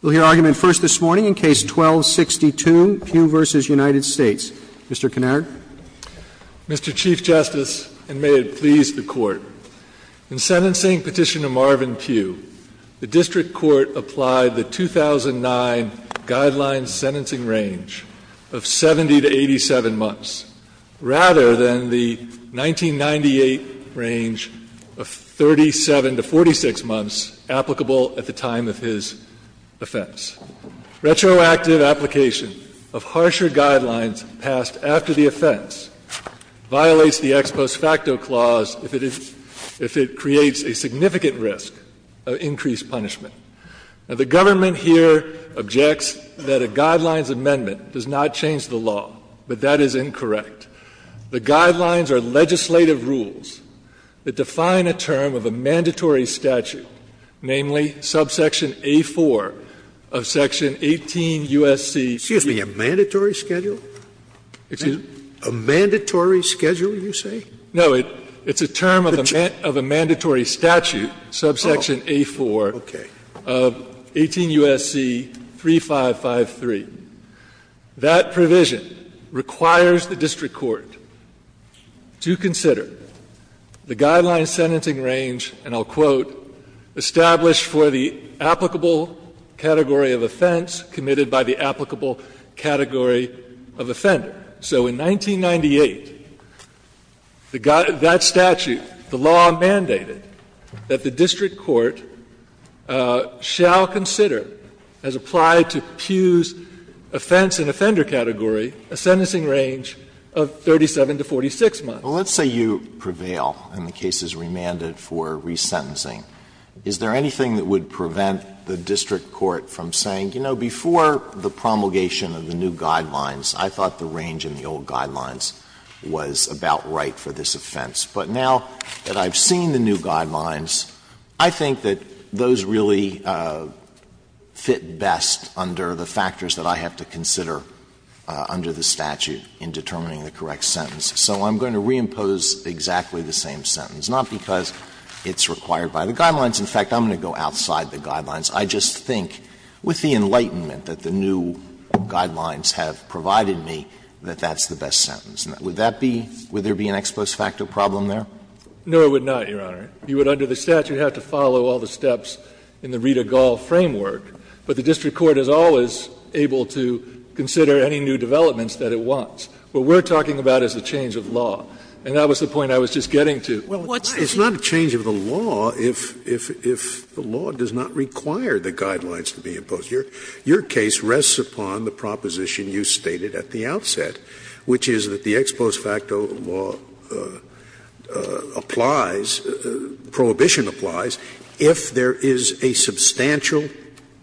We'll hear argument first this morning in Case 12-62, Peugh v. United States. Mr. Kinnard. Mr. Chief Justice, and may it please the Court, in sentencing Petitioner Marvin Peugh, the District Court applied the 2009 Guidelines Sentencing Range of 70 to 87 months, rather than the 1998 range of 37 to 46 months applicable at the time of his offense. Retroactive application of harsher guidelines passed after the offense violates the ex post facto clause if it creates a significant risk of increased punishment. Now, the government here objects that a guidelines amendment does not change the law, but that is incorrect. The guidelines are legislative rules that define a term of a mandatory statute, namely subsection A-4 of section 18 U.S.C. Scalia. Excuse me, a mandatory schedule? Excuse me? A mandatory schedule, you say? No, it's a term of a mandatory statute, subsection A-4. Okay. Of 18 U.S.C. 3553. That provision requires the district court to consider the Guidelines Sentencing Range, and I'll quote, ''established for the applicable category of offense committed by the applicable category of offender.'' ''Shall consider, as applied to Pugh's offense and offender category, a sentencing range of 37 to 46 months.'' Well, let's say you prevail and the case is remanded for resentencing. Is there anything that would prevent the district court from saying, you know, before the promulgation of the new guidelines, I thought the range in the old guidelines was about right for this offense. But now that I've seen the new guidelines, I think that those really fit best under the factors that I have to consider under the statute in determining the correct sentence. So I'm going to reimpose exactly the same sentence, not because it's required by the guidelines. In fact, I'm going to go outside the guidelines. I just think, with the enlightenment that the new guidelines have provided me, that that's the best sentence. Would that be, would there be an ex post facto problem there? No, it would not, Your Honor. You would, under the statute, have to follow all the steps in the Ridegall framework. But the district court is always able to consider any new developments that it wants. What we're talking about is the change of law. And that was the point I was just getting to. Scalia. Well, it's not a change of the law if the law does not require the guidelines to be imposed. Your case rests upon the proposition you stated at the outset, which is that the ex post facto law applies, prohibition applies, if there is a substantial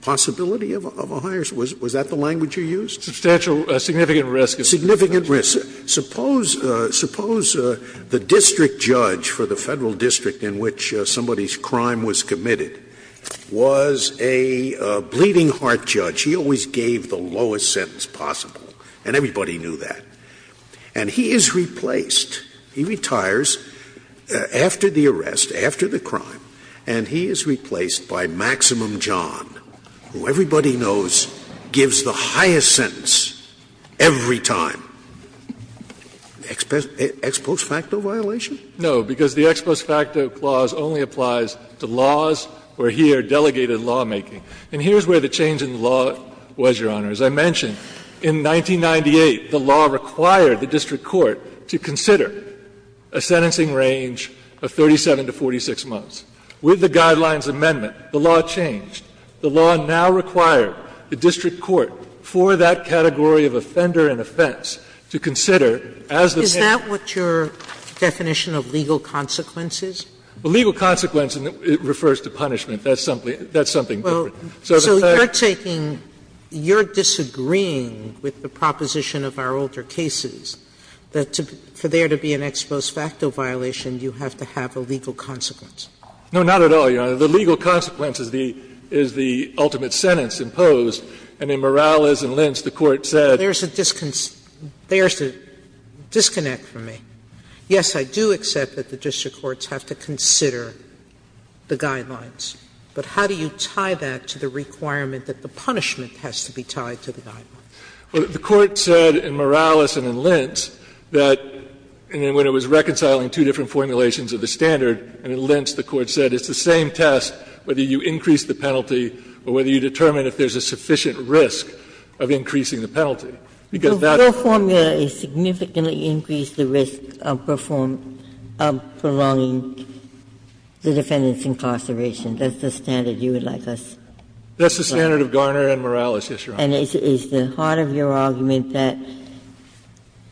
possibility of a higher, was that the language you used? Substantial, significant risk. Significant risk. Suppose, suppose the district judge for the Federal district in which somebody's crime was committed was a bleeding heart judge. He always gave the lowest sentence possible, and everybody knew that. And he is replaced, he retires after the arrest, after the crime, and he is replaced by Maximum John, who everybody knows gives the highest sentence every time. Ex post facto violation? No, because the ex post facto clause only applies to laws where he or delegated lawmaking. And here's where the change in the law was, Your Honor. As I mentioned, in 1998, the law required the district court to consider a sentencing range of 37 to 46 months. With the Guidelines Amendment, the law changed. The law now required the district court for that category of offender and offense to consider as the plaintiff. Is that what your definition of legal consequence is? Well, legal consequence refers to punishment. That's something different. So you're taking – you're disagreeing with the proposition of our older cases, that for there to be an ex post facto violation, you have to have a legal consequence. No, not at all, Your Honor. The legal consequence is the ultimate sentence imposed, and in Morales and Lentz, the Court said – There's a disconnect for me. Yes, I do accept that the district courts have to consider the guidelines, but how do you tie that to the requirement that the punishment has to be tied to the guidelines? The Court said in Morales and in Lentz that when it was reconciling two different formulations of the standard, and in Lentz the Court said it's the same test, whether you increase the penalty or whether you determine if there's a sufficient risk of increasing the penalty, because that's the same test. The formula is significantly increase the risk of performing – of prolonging the defendant's incarceration. That's the standard you would like us to apply. That's the standard of Garner and Morales, yes, Your Honor. And is the heart of your argument that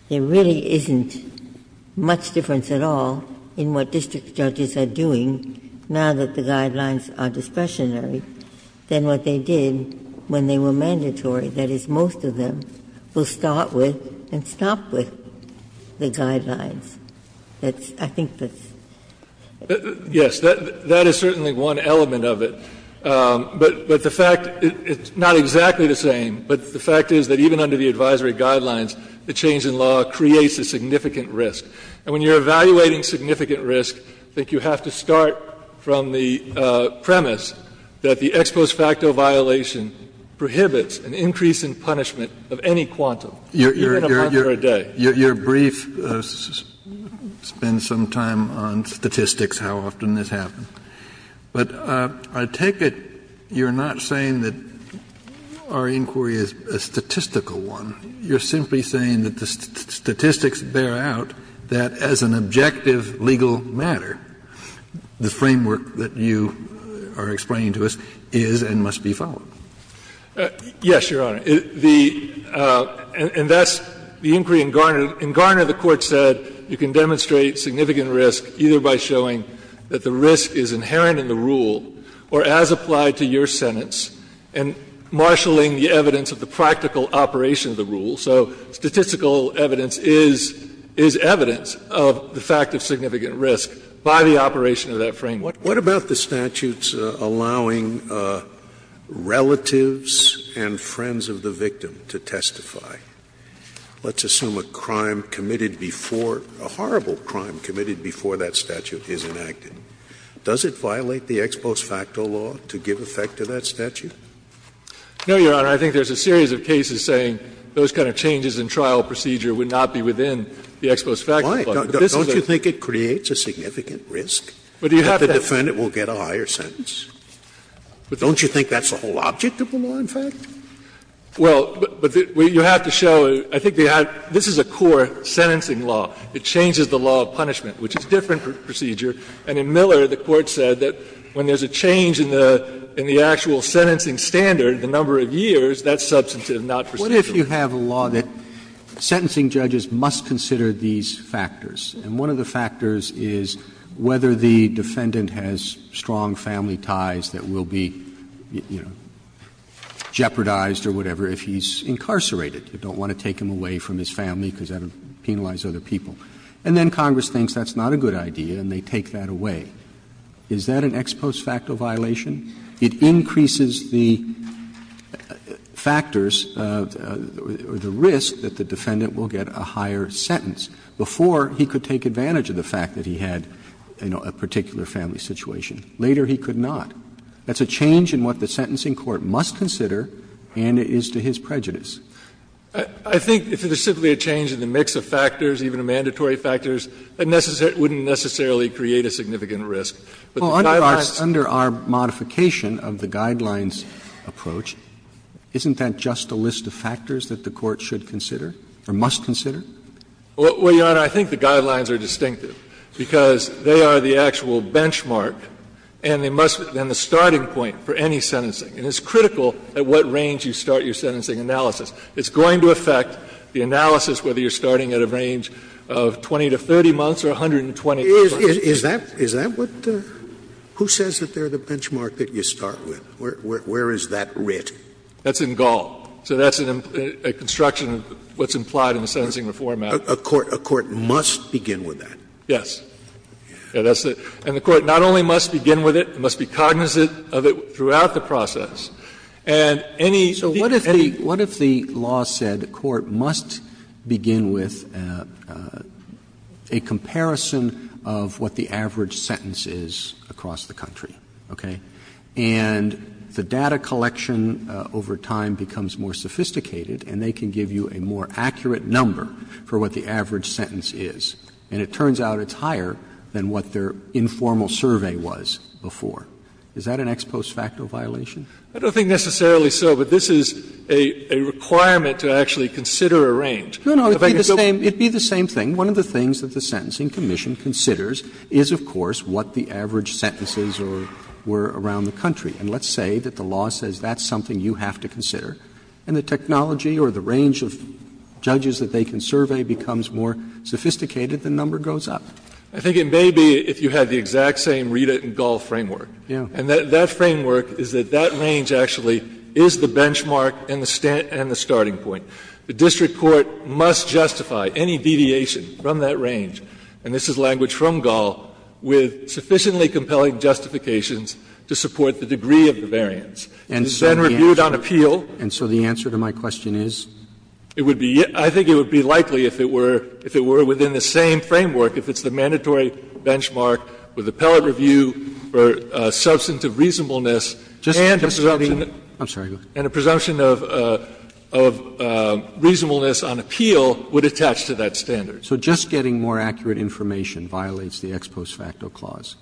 there really isn't much difference at all in what district judges are doing now that the guidelines are discretionary than what they did when they were mandatory? That is, most of them will start with and stop with the guidelines. That's – I think that's – Yes. That is certainly one element of it. But the fact – it's not exactly the same, but the fact is that even under the advisory guidelines, the change in law creates a significant risk. And when you're evaluating significant risk, I think you have to start from the premise that the ex post facto violation prohibits an increase in punishment of any quantum, even a month or a day. Kennedy, your brief spends some time on statistics, how often this happens. But I take it you're not saying that our inquiry is a statistical one. You're simply saying that the statistics bear out that as an objective legal matter, the framework that you are explaining to us is and must be followed. Yes, Your Honor. The – and that's the inquiry in Garner. In Garner, the Court said you can demonstrate significant risk either by showing that the risk is inherent in the rule or as applied to your sentence and marshalling the evidence of the practical operation of the rule. So statistical evidence is evidence of the fact of significant risk by the operation of that framework. Scalia, what about the statutes allowing relatives and friends of the victim to testify? Let's assume a crime committed before, a horrible crime committed before that statute is enacted. Does it violate the ex post facto law to give effect to that statute? No, Your Honor. I think there's a series of cases saying those kind of changes in trial procedure would not be within the ex post facto law. Scalia, don't you think it creates a significant risk that the defendant will get a higher sentence? Don't you think that's the whole object of the law, in fact? Well, but you have to show, I think they have – this is a core sentencing law. It changes the law of punishment, which is a different procedure. And in Miller, the Court said that when there's a change in the actual sentencing standard, the number of years, that's substantive, not procedural. What if you have a law that sentencing judges must consider these factors? And one of the factors is whether the defendant has strong family ties that will be, you know, jeopardized or whatever if he's incarcerated. You don't want to take him away from his family because that would penalize other people. And then Congress thinks that's not a good idea and they take that away. Is that an ex post facto violation? It increases the factors or the risk that the defendant will get a higher sentence before he could take advantage of the fact that he had, you know, a particular family situation. Later, he could not. That's a change in what the sentencing court must consider and it is to his prejudice. I think if it is simply a change in the mix of factors, even a mandatory factors, it wouldn't necessarily create a significant risk. But the guidelines. Roberts Under our modification of the guidelines approach, isn't that just a list of factors that the Court should consider or must consider? Well, Your Honor, I think the guidelines are distinctive because they are the actual benchmark and they must be the starting point for any sentencing. And it's critical at what range you start your sentencing analysis. It's going to affect the analysis whether you're starting at a range of 20 to 30 months or 120 to 30 months. Scalia Is that what the – who says that they're the benchmark that you start with? Where is that writ? That's in Gall. So that's a construction of what's implied in the sentencing reform act. A court must begin with that? Yes. And the Court not only must begin with it, must be cognizant of it throughout the process. And any feature, any of the other… Roberts So what if the law said court must begin with a comparison of what the average sentence is across the country, okay? And the data collection over time becomes more sophisticated and they can give you a more accurate number for what the average sentence is. And it turns out it's higher than what their informal survey was before. Is that an ex post facto violation? I don't think necessarily so, but this is a requirement to actually consider a range. No, no, it would be the same thing. One of the things that the Sentencing Commission considers is, of course, what the average sentence is or were around the country. And let's say that the law says that's something you have to consider, and the technology or the range of judges that they can survey becomes more sophisticated, the number goes up. I think it may be if you had the exact same read-it-and-golf framework. And that framework is that that range actually is the benchmark and the starting point. The district court must justify any deviation from that range, and this is language from Gall, with sufficiently compelling justifications to support the degree of the variance. And it's then reviewed on appeal. And so the answer to my question is? It would be — I think it would be likely if it were within the same framework, if it's the mandatory benchmark with appellate review for substantive reasonableness and a presumption of reasonableness on appeal would attach to that standard. Roberts. So just getting more accurate information violates the ex post facto clause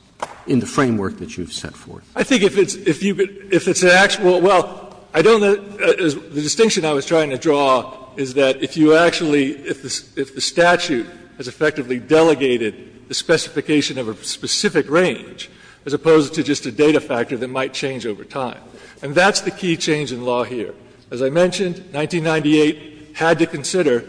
in the framework that you've set forth? I think if it's an actual — well, I don't know — the distinction I was trying to draw is that if you actually — if the statute has effectively delegated the specification of a specific range as opposed to just a data factor that might change over time. And that's the key change in law here. As I mentioned, 1998 had to consider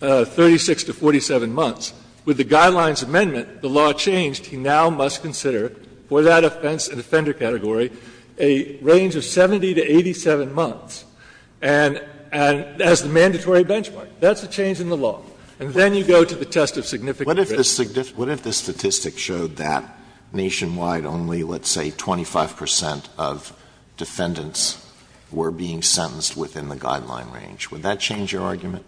36 to 47 months. With the Guidelines Amendment, the law changed. He now must consider for that offense and offender category a range of 70 to 87 months. And as the mandatory benchmark. That's a change in the law. And then you go to the test of significant risk. Alito, what if the statistic showed that nationwide only, let's say, 25 percent of defendants were being sentenced within the guideline range? Would that change your argument?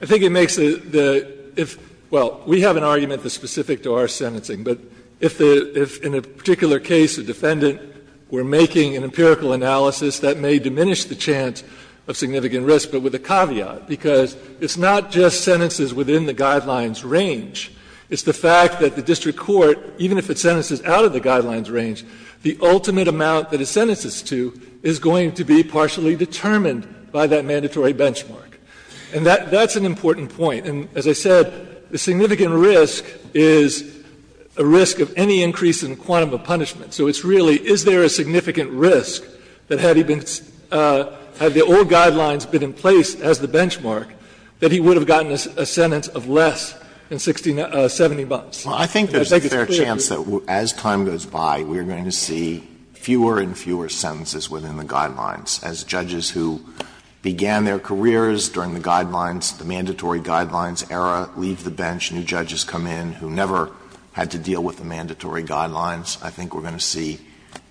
I think it makes the — well, we have an argument that's specific to our sentencing. But if in a particular case a defendant were making an empirical analysis that may diminish the chance of significant risk, but with a caveat, because it's not just sentences within the guidelines range. It's the fact that the district court, even if it sentences out of the guidelines range, the ultimate amount that it sentences to is going to be partially determined by that mandatory benchmark. And that's an important point. And as I said, the significant risk is a risk of any increase in quantum of punishment. So it's really, is there a significant risk that had he been — had the old guidelines been in place as the benchmark, that he would have gotten a sentence of less than 70 months? Alito, I think it's clear that there's a fair chance that as time goes by, we are going to see fewer and fewer sentences within the guidelines. As judges who began their careers during the guidelines, the mandatory guidelines era, leave the bench, new judges come in who never had to deal with the mandatory guidelines, I think we're going to see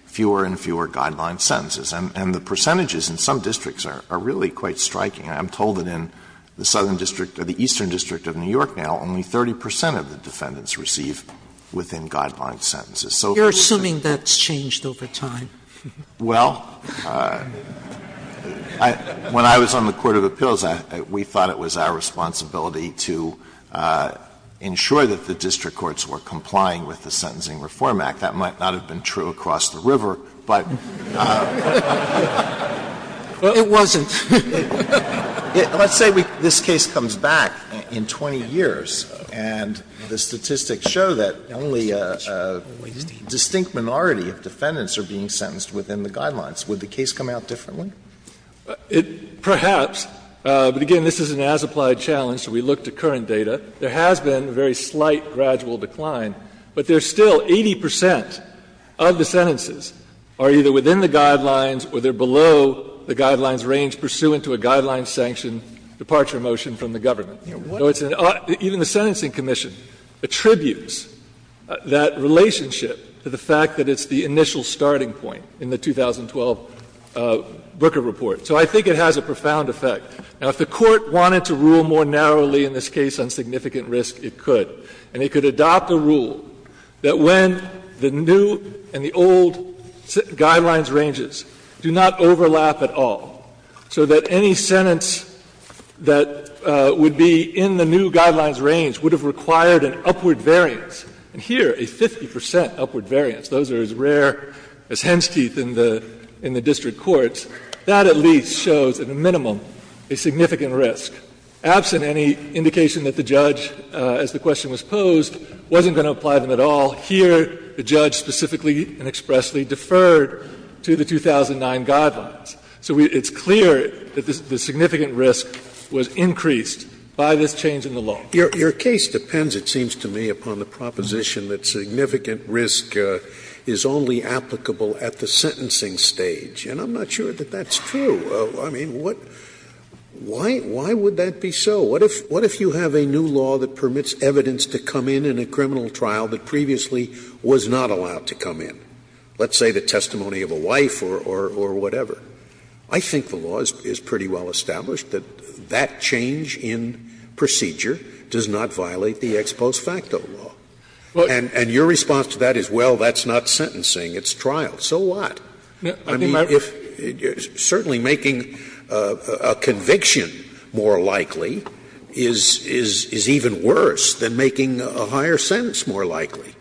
fewer and fewer guideline sentences. And the percentages in some districts are really quite striking. I'm told that in the southern district or the eastern district of New York now, only 30 percent of the defendants receive within-guidelines sentences. So if you're saying that's changed over time. Well, when I was on the court of appeals, we thought it was our responsibility to ensure that the district courts were complying with the sentencing requirements of the Affordable Care Act. That might not have been true across the river, but we thought it was our responsibility of the Affordable Care Act. Sotomayor, let's say this case comes back in 20 years, and the statistics show that only a distinct minority of defendants are being sentenced within the guidelines. Would the case come out differently? Perhaps, but again, this is an as-applied challenge, so we look to current data. There has been a very slight gradual decline, but there's still 80 percent of the sentences are either within the guidelines or they're below the guidelines range pursuant to a guideline-sanctioned departure motion from the government. Even the Sentencing Commission attributes that relationship to the fact that it's the initial starting point in the 2012 Booker report. So I think it has a profound effect. Now, if the Court wanted to rule more narrowly in this case on significant risk, it could. And it could adopt a rule that when the new and the old guidelines ranges do not overlap at all, so that any sentence that would be in the new guidelines range would have required an upward variance. And here, a 50 percent upward variance, those are as rare as hen's teeth in the district courts, that at least shows, at a minimum, a significant risk. Absent any indication that the judge, as the question was posed, wasn't going to apply them at all, here the judge specifically and expressly deferred to the 2009 guidelines. So it's clear that the significant risk was increased by this change in the law. Scalia. Your case depends, it seems to me, upon the proposition that significant risk is only applicable at the sentencing stage. And I'm not sure that that's true. I mean, what — why would that be so? What if you have a new law that permits evidence to come in in a criminal trial that previously was not allowed to come in? Let's say the testimony of a wife or whatever. I think the law is pretty well established that that change in procedure does not violate the ex post facto law. And your response to that is, well, that's not sentencing, it's trial. So what? I mean, if — certainly making a conviction more likely is even worse than making a higher sentence more likely.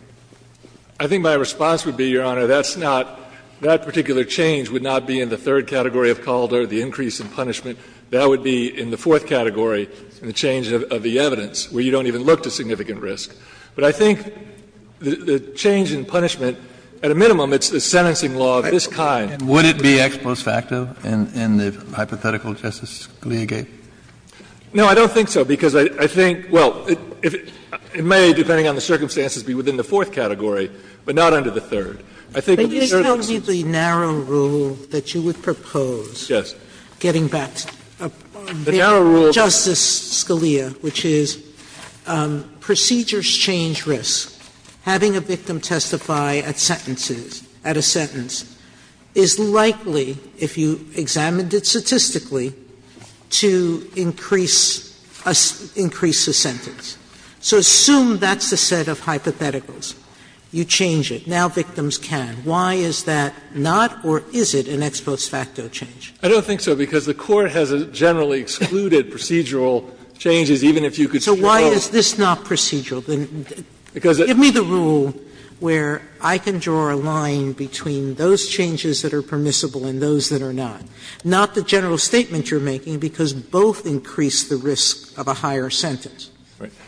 I think my response would be, Your Honor, that's not — that particular change would not be in the third category of Calder, the increase in punishment. That would be in the fourth category, in the change of the evidence, where you don't even look to significant risk. But I think the change in punishment, at a minimum, it's the sentencing law of this kind. And would it be ex post facto in the hypothetical, Justice Scalia gave? No, I don't think so, because I think — well, it may, depending on the circumstances, be within the fourth category, but not under the third. I think in these circumstances — Sotomayor, can you tell me the narrow rule that you would propose getting back to — The narrow rule — Justice Scalia, which is procedures change risk. Having a victim testify at sentences, at a sentence, is likely, if you examined it statistically, to increase a sentence. So assume that's the set of hypotheticals. You change it. Now victims can. Why is that not, or is it, an ex post facto change? I don't think so, because the Court has generally excluded procedural changes, even if you could show— So why is this not procedural? Because give me the rule where I can draw a line between those changes that are permissible and those that are not, not the general statement you're making, because both increase the risk of a higher sentence.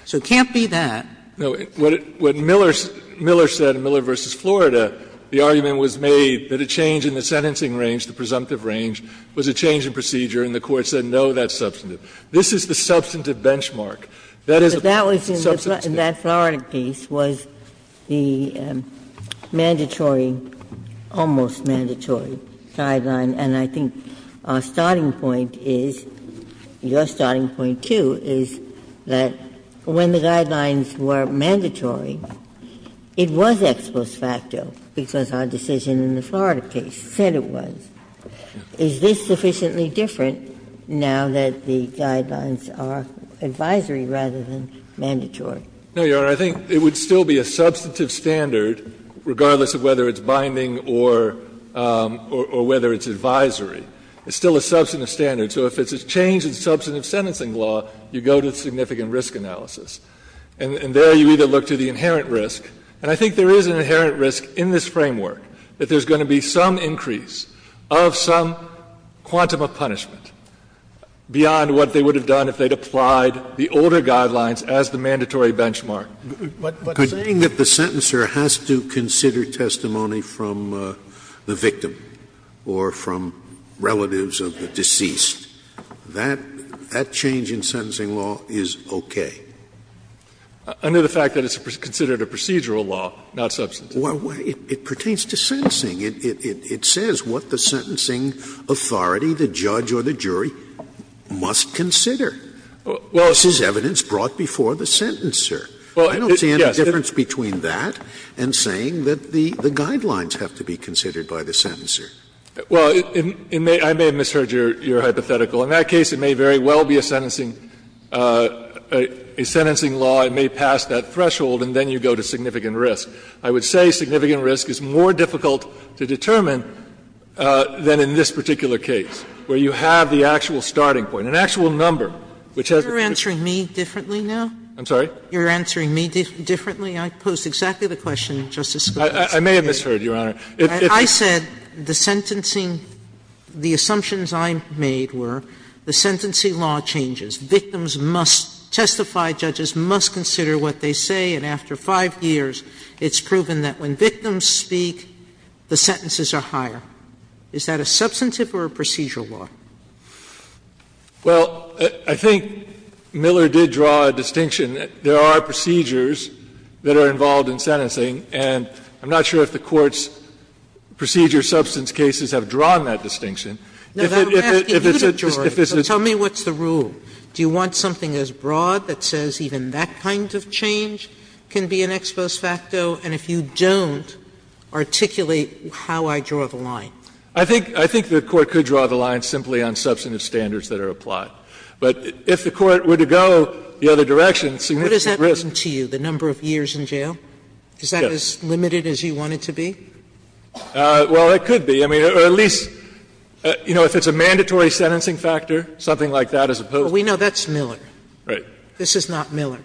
So it can't be that. No. What Miller said in Miller v. Florida, the argument was made that a change in the sentencing range, the presumptive range, was a change in procedure, and the Court said no, that's substantive. This is the substantive benchmark. That is substantive. But that was in that Florida case, was the mandatory, almost mandatory guideline. And I think our starting point is, your starting point, too, is that when the guidelines were mandatory, it was ex post facto, because our decision in the Florida case said it was. Is this sufficiently different now that the guidelines are advisory rather than mandatory? No, Your Honor. I think it would still be a substantive standard, regardless of whether it's binding or whether it's advisory. It's still a substantive standard. So if it's a change in substantive sentencing law, you go to significant risk analysis. And there you either look to the inherent risk, and I think there is an inherent risk in this framework that there's going to be some increase of some quantum of punishment beyond what they would have done if they'd applied the older guidelines as the mandatory benchmark. But saying that the sentencer has to consider testimony from the victim or from relatives of the deceased, that change in sentencing law is okay. Under the fact that it's considered a procedural law, not substantive. Well, it pertains to sentencing. It says what the sentencing authority, the judge or the jury, must consider. Well, it's just evidence brought before the sentencer. Well, yes. I don't see any difference between that and saying that the guidelines have to be considered by the sentencer. Well, I may have misheard your hypothetical. In that case, it may very well be a sentencing law. It may pass that threshold, and then you go to significant risk. I would say significant risk is more difficult to determine than in this particular case, where you have the actual starting point, an actual number, which has to be considered. Sotomayor, you're answering me differently now? I'm sorry? You're answering me differently? I posed exactly the question, Justice Scalia. I may have misheard, Your Honor. I said the sentencing, the assumptions I made were the sentencing law changes. Victims must testify, judges must consider what they say, and after 5 years, it's proven that when victims speak, the sentences are higher. Is that a substantive or a procedural law? Well, I think Miller did draw a distinction. There are procedures that are involved in sentencing, and I'm not sure if the Court's procedure substance cases have drawn that distinction. If it's a rule, do you want something as broad that says even that kind of change can be an ex post facto, and if you don't, articulate how I draw the line? I think the Court could draw the line simply on substantive standards that are applied. But if the Court were to go the other direction, significant risk. What does that mean to you, the number of years in jail? Is that as limited as you want it to be? Well, it could be. I mean, or at least, you know, if it's a mandatory sentencing factor, something like that as opposed to the other. But we know that's Miller. Right. This is not Miller.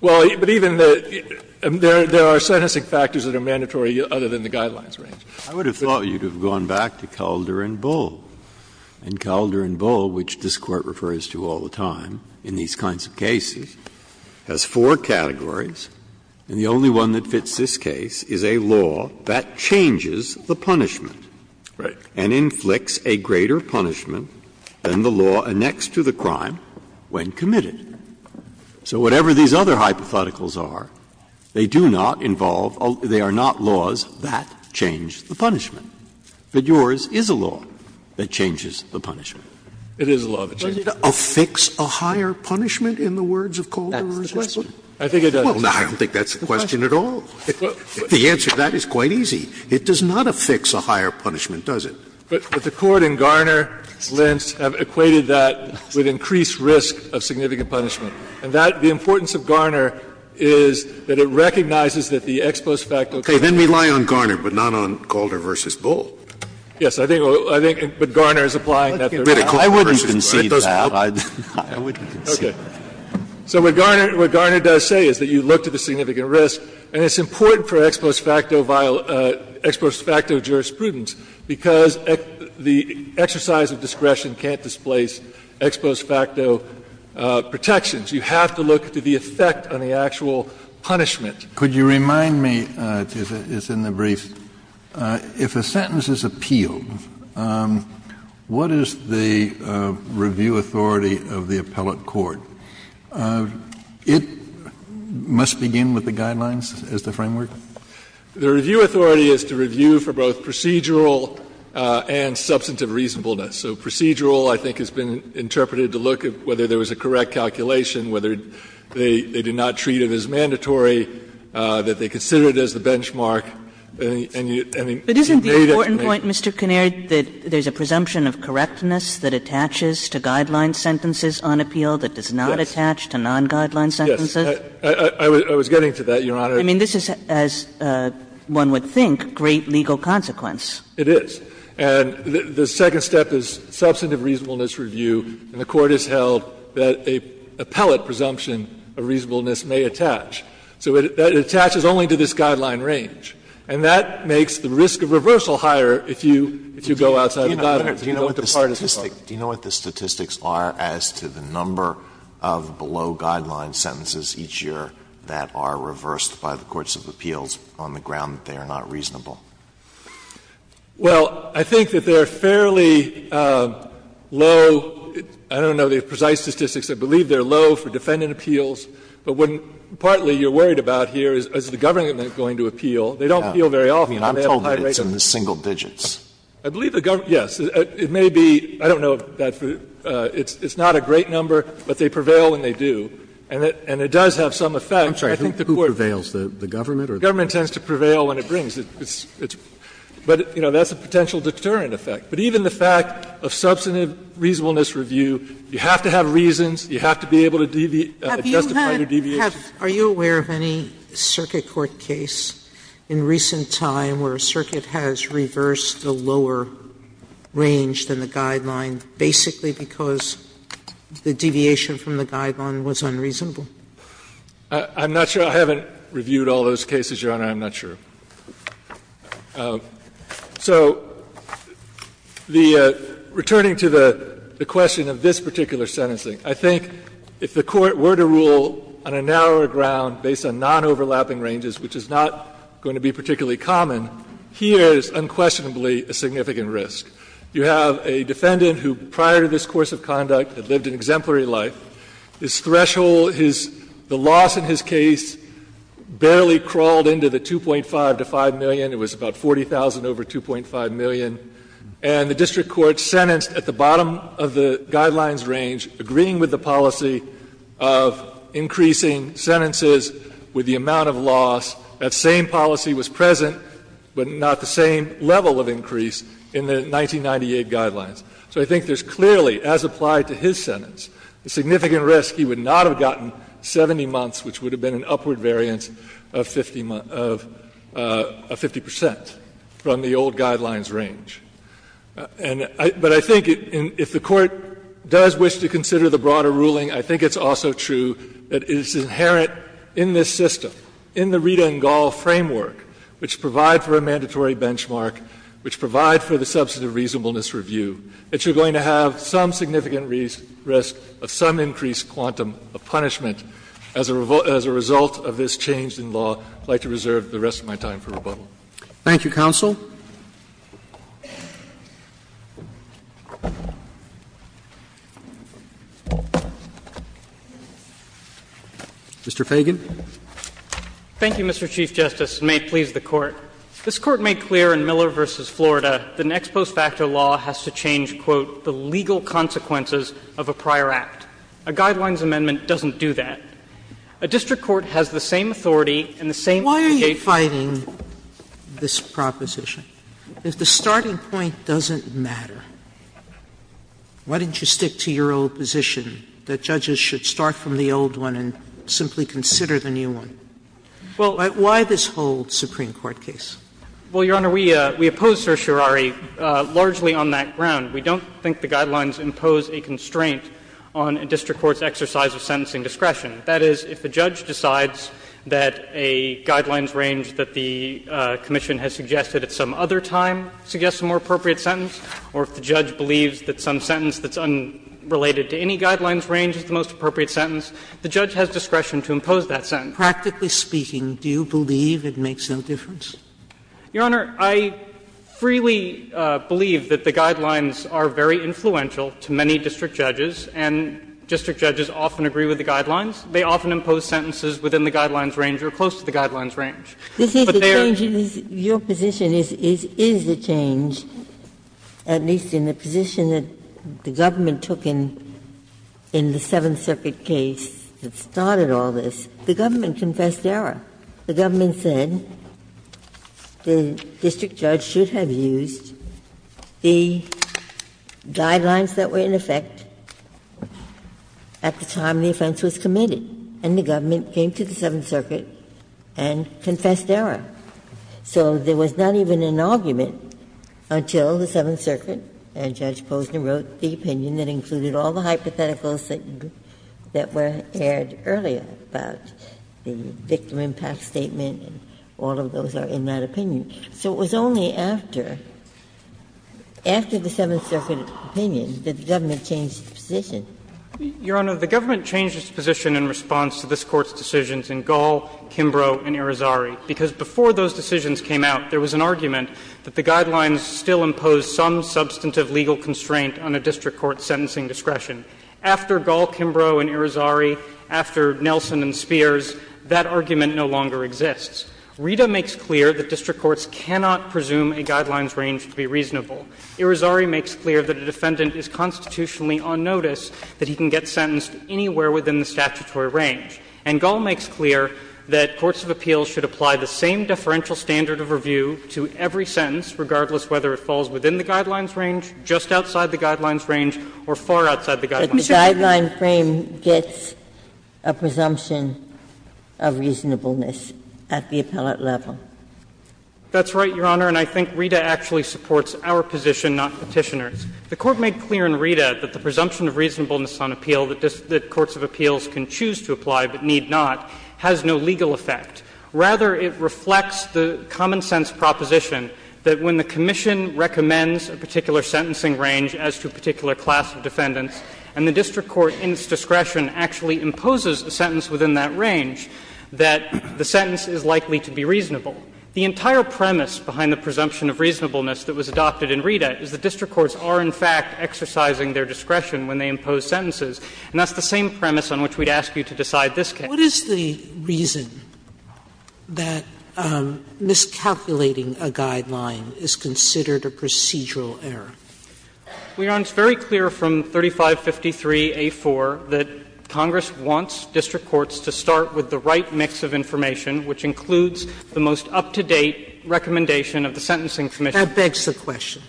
Well, but even the – there are sentencing factors that are mandatory other than the guidelines range. I would have thought you'd have gone back to Calder and Bull. But yours is a law that changes the punishment. It is a law that changes the punishment. Does it affix a higher punishment in the words of Calder v. Bull? I think it does. Well, I don't think that's the question at all. The answer to that is quite easy. It does not affix a higher punishment, does it? But the Court in Garner, Lentz have equated that with increased risk of significant punishment. And that – the importance of Garner is that it recognizes that the ex post facto can't be applied. Okay, then we lie on Garner, but not on Calder v. Bull. Yes, I think – but Garner is applying that there. I wouldn't concede that. I wouldn't concede that. Okay. So what Garner does say is that you look to the significant risk, and it's important for ex post facto jurisprudence because the exercise of discretion can't displace ex post facto protections. You have to look to the effect on the actual punishment. Could you remind me, it's in the brief, if a sentence is appealed, what is the review authority of the appellate court? It must begin with the guidelines as the framework? The review authority is to review for both procedural and substantive reasonableness. So procedural, I think, has been interpreted to look at whether there was a correct calculation, whether they did not treat it as mandatory, that they considered it as the benchmark. And you made it. But isn't the important point, Mr. Kinnaird, that there's a presumption of correctness that attaches to guideline sentences on appeal that does not attach to non-guideline sentences? Yes. I was getting to that, Your Honor. I mean, this is, as one would think, a great legal consequence. And the second step is substantive reasonableness review, and the Court has held that an appellate presumption of reasonableness may attach. So it attaches only to this guideline range. And that makes the risk of reversal higher if you go outside the guidelines. Alito, do you know what the statistics are as to the number of below-guideline sentences each year that are reversed by the courts of appeals on the ground that they are not reasonable? Well, I think that they are fairly low. I don't know the precise statistics. I believe they are low for defendant appeals. But what partly you are worried about here is, is the government going to appeal? They don't appeal very often. They have a high rate of appeal. I'm told that it's in the single digits. I believe the government, yes. It may be, I don't know, it's not a great number, but they prevail when they do. And it does have some effect. I'm sorry, who prevails, the government or the courts? The government tends to prevail when it brings it. But, you know, that's a potential deterrent effect. But even the fact of substantive reasonableness review, you have to have reasons, you have to be able to justify your deviations. Are you aware of any circuit court case in recent time where a circuit has reversed a lower range than the guideline basically because the deviation from the guideline was unreasonable? I'm not sure. I haven't reviewed all those cases, Your Honor. I'm not sure. So the returning to the question of this particular sentencing, I think if the Court were to rule on a narrower ground based on non-overlapping ranges, which is not going to be particularly common, here is unquestionably a significant risk. You have a defendant who prior to this course of conduct had lived an exemplary life, his threshold, his the loss in his case barely crawled into the 2.5 to 5 million. It was about 40,000 over 2.5 million. And the district court sentenced at the bottom of the guidelines range, agreeing with the policy of increasing sentences with the amount of loss, that same policy was present, but not the same level of increase in the 1998 guidelines. So I think there is clearly, as applied to his sentence, a significant risk he would not have gotten 70 months, which would have been an upward variance of 50 percent from the old guidelines range. But I think if the Court does wish to consider the broader ruling, I think it's also true that it is inherent in this system, in the Rita and Gall framework, which provide for a mandatory benchmark, which provide for the substantive reasonableness review, that you're going to have some significant risk of some increased quantum of punishment as a result of this change in law. I would like to reserve the rest of my time for rebuttal. Roberts. Thank you, counsel. Mr. Fagan. Thank you, Mr. Chief Justice, and may it please the Court. This Court made clear in Miller v. Florida that an ex post facto law has to change, quote, the legal consequences of a prior act. A guidelines amendment doesn't do that. A district court has the same authority and the same obligate formula. Sotomayor Why are you fighting this proposition? If the starting point doesn't matter, why don't you stick to your old position that judges should start from the old one and simply consider the new one? Why this whole Supreme Court case? Well, Your Honor, we oppose certiorari largely on that ground. We don't think the guidelines impose a constraint on a district court's exercise of sentencing discretion. That is, if the judge decides that a guidelines range that the commission has suggested at some other time suggests a more appropriate sentence, or if the judge believes that some sentence that's unrelated to any guidelines range is the most appropriate sentence, the judge has discretion to impose that sentence. So practically speaking, do you believe it makes no difference? Your Honor, I freely believe that the guidelines are very influential to many district judges, and district judges often agree with the guidelines. They often impose sentences within the guidelines range or close to the guidelines range. But they are the same. Ginsburg Your position is a change, at least in the position that the government took in the Seventh Circuit case that started all this. The government confessed error. The government said the district judge should have used the guidelines that were in effect at the time the offense was committed, and the government came to the Seventh Circuit and confessed error. So there was not even an argument until the Seventh Circuit, and Judge Posner wrote the opinion that included all the hypotheticals that were aired earlier about the victim impact statement, and all of those are in that opinion. So it was only after, after the Seventh Circuit opinion, that the government changed its position. Your Honor, the government changed its position in response to this Court's decisions in Gall, Kimbrough, and Irizarry, because before those decisions came out, there was an argument that the guidelines still imposed some substantive legal constraint on a district court's sentencing discretion. After Gall, Kimbrough, and Irizarry, after Nelson and Spears, that argument no longer exists. Rita makes clear that district courts cannot presume a guidelines range to be reasonable. Irizarry makes clear that a defendant is constitutionally on notice, that he can get sentenced anywhere within the statutory range. And Gall makes clear that courts of appeals should apply the same deferential standard of review to every sentence, regardless whether it falls within the guidelines range, just outside the guidelines range, or far outside the guidelines range. Ginsburg. But the guideline frame gets a presumption of reasonableness at the appellate level. That's right, Your Honor, and I think Rita actually supports our position, not Petitioner's. The Court made clear in Rita that the presumption of reasonableness on appeal that courts of appeals can choose to apply but need not has no legal effect. Rather, it reflects the common-sense proposition that when the commission recommends a particular sentencing range as to a particular class of defendants, and the district court in its discretion actually imposes a sentence within that range, that the sentence is likely to be reasonable. The entire premise behind the presumption of reasonableness that was adopted in Rita is that district courts are, in fact, exercising their discretion when they impose sentences. And that's the same premise on which we'd ask you to decide this case. Sotomayor, what is the reason that miscalculating a guideline is considered a procedural error? Your Honor, it's very clear from 3553a.4 that Congress wants district courts to start with the right mix of information, which includes the most up-to-date recommendation of the Sentencing Commission. That begs the question.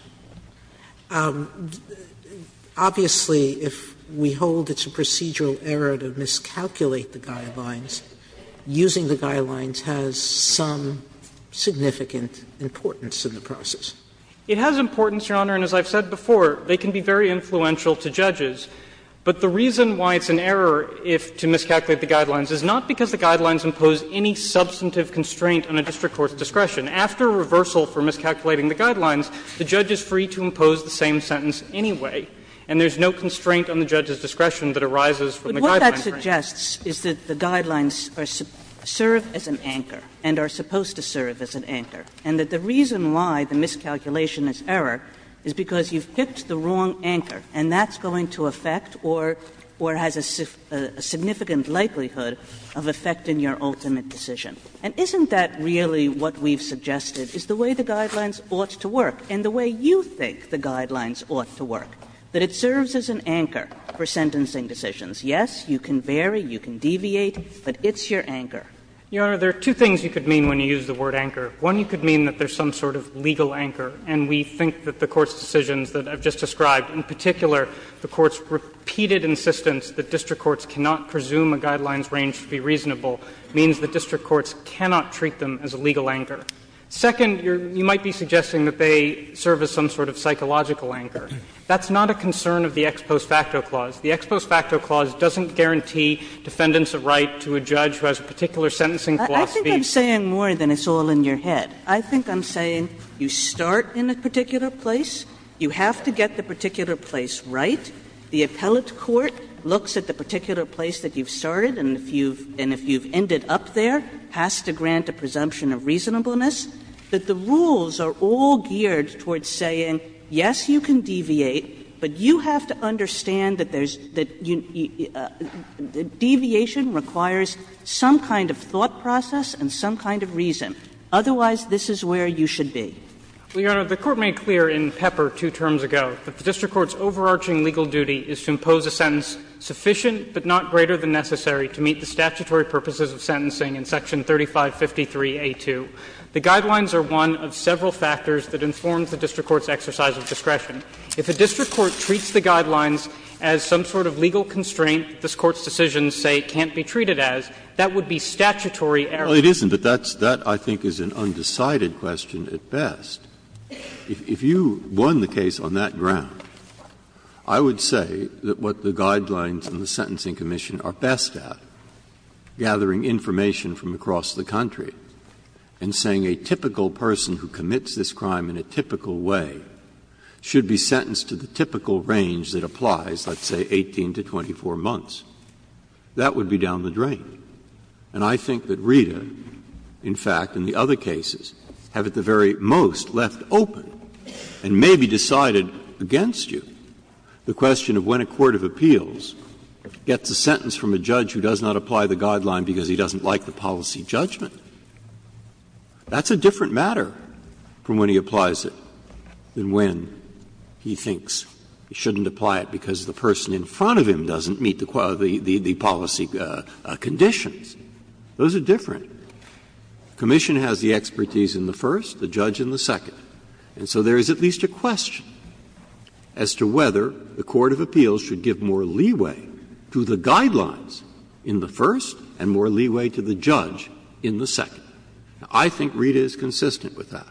Obviously, if we hold it's a procedural error to miscalculate the guidelines, using the guidelines has some significant importance in the process. It has importance, Your Honor, and as I've said before, they can be very influential to judges. But the reason why it's an error if to miscalculate the guidelines is not because the guidelines impose any substantive constraint on a district court's discretion. After a reversal for miscalculating the guidelines, the judge is free to impose the same sentence anyway, and there's no constraint on the judge's discretion that arises from the guideline frame. Kagan. Kagan. But what that suggests is that the guidelines serve as an anchor and are supposed to serve as an anchor, and that the reason why the miscalculation is error is because you've picked the wrong anchor, and that's going to affect or has a significant likelihood of affecting your ultimate decision. And isn't that really what we've suggested is the way the guidelines ought to work and the way you think the guidelines ought to work, that it serves as an anchor for sentencing decisions? Yes, you can vary, you can deviate, but it's your anchor. Feigin. Feigin. Your Honor, there are two things you could mean when you use the word anchor. One, you could mean that there's some sort of legal anchor, and we think that the Court's decisions that I've just described, in particular the Court's repeated insistence that district courts cannot presume a guidelines range to be reasonable, means that district courts cannot treat them as a legal anchor. Second, you might be suggesting that they serve as some sort of psychological anchor. That's not a concern of the Ex Post Facto Clause. The Ex Post Facto Clause doesn't guarantee defendants a right to a judge who has a particular sentencing philosophy. Kagan. I think I'm saying more than it's all in your head. I think I'm saying you start in a particular place, you have to get the particular place right, the appellate court looks at the particular place that you've started and if you've ended up there, has to grant a presumption of reasonableness, that the rules are all geared towards saying, yes, you can deviate, but you have to understand that there's the deviation requires some kind of thought process and some kind of reason. Otherwise, this is where you should be. Feigin. Your Honor, the Court made clear in Pepper two terms ago that the district court's overarching legal duty is to impose a sentence sufficient but not greater than necessary to meet the statutory purposes of sentencing in section 3553A2. The guidelines are one of several factors that inform the district court's exercise of discretion. If a district court treats the guidelines as some sort of legal constraint this Court's decisions say can't be treated as, that would be statutory error. Breyer. Well, it isn't, but that, I think, is an undecided question at best. If you won the case on that ground, I would say that what the guidelines in the Sentencing Commission are best at, gathering information from across the country, and saying a typical person who commits this crime in a typical way should be sentenced to the typical range that applies, let's say, 18 to 24 months, that would be down the drain. And I think that Rita, in fact, and the other cases, have at the very most left open and maybe decided against you the question of when a court of appeals gets a sentence from a judge who does not apply the guideline because he doesn't like the policy judgment. That's a different matter from when he applies it than when he thinks he shouldn't apply it because the person in front of him doesn't meet the policy conditions. Those are different. The commission has the expertise in the first, the judge in the second. And so there is at least a question as to whether the court of appeals should give more leeway to the guidelines in the first and more leeway to the judge in the second. I think Rita is consistent with that,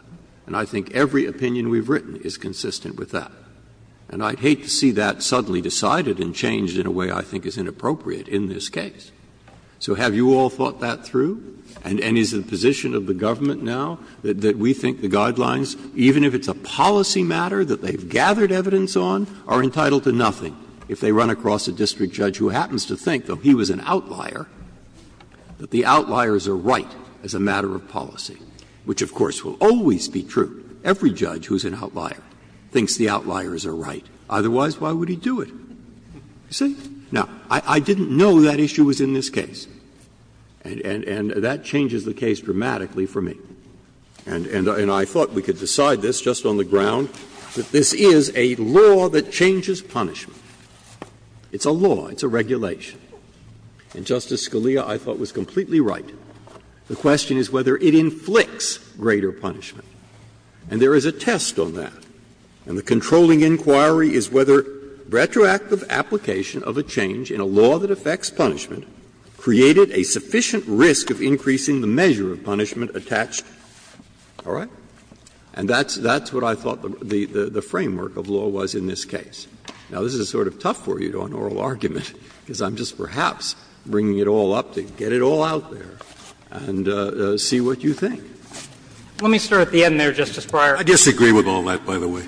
and I think every opinion we've written is consistent with that. And I'd hate to see that suddenly decided and changed in a way I think is inappropriate in this case. So have you all thought that through? And is the position of the government now that we think the guidelines, even if it's a policy matter that they've gathered evidence on, are entitled to nothing if they run across a district judge who happens to think, though he was an outlier, that the outliers are right as a matter of policy, which, of course, will always be true. Every judge who is an outlier thinks the outliers are right. Otherwise, why would he do it? You see? Now, I didn't know that issue was in this case. And that changes the case dramatically for me. And I thought we could decide this just on the ground, that this is a law that changes punishment. It's a law. It's a regulation. And Justice Scalia, I thought, was completely right. The question is whether it inflicts greater punishment. And there is a test on that. And the controlling inquiry is whether retroactive application of a change in a law that affects punishment created a sufficient risk of increasing the measure of punishment attached. All right? And that's what I thought the framework of law was in this case. Now, this is sort of tough for you to do an oral argument, because I'm just perhaps bringing it all up to get it all out there and see what you think. Let me start at the end there, Justice Breyer. I disagree with all that, by the way.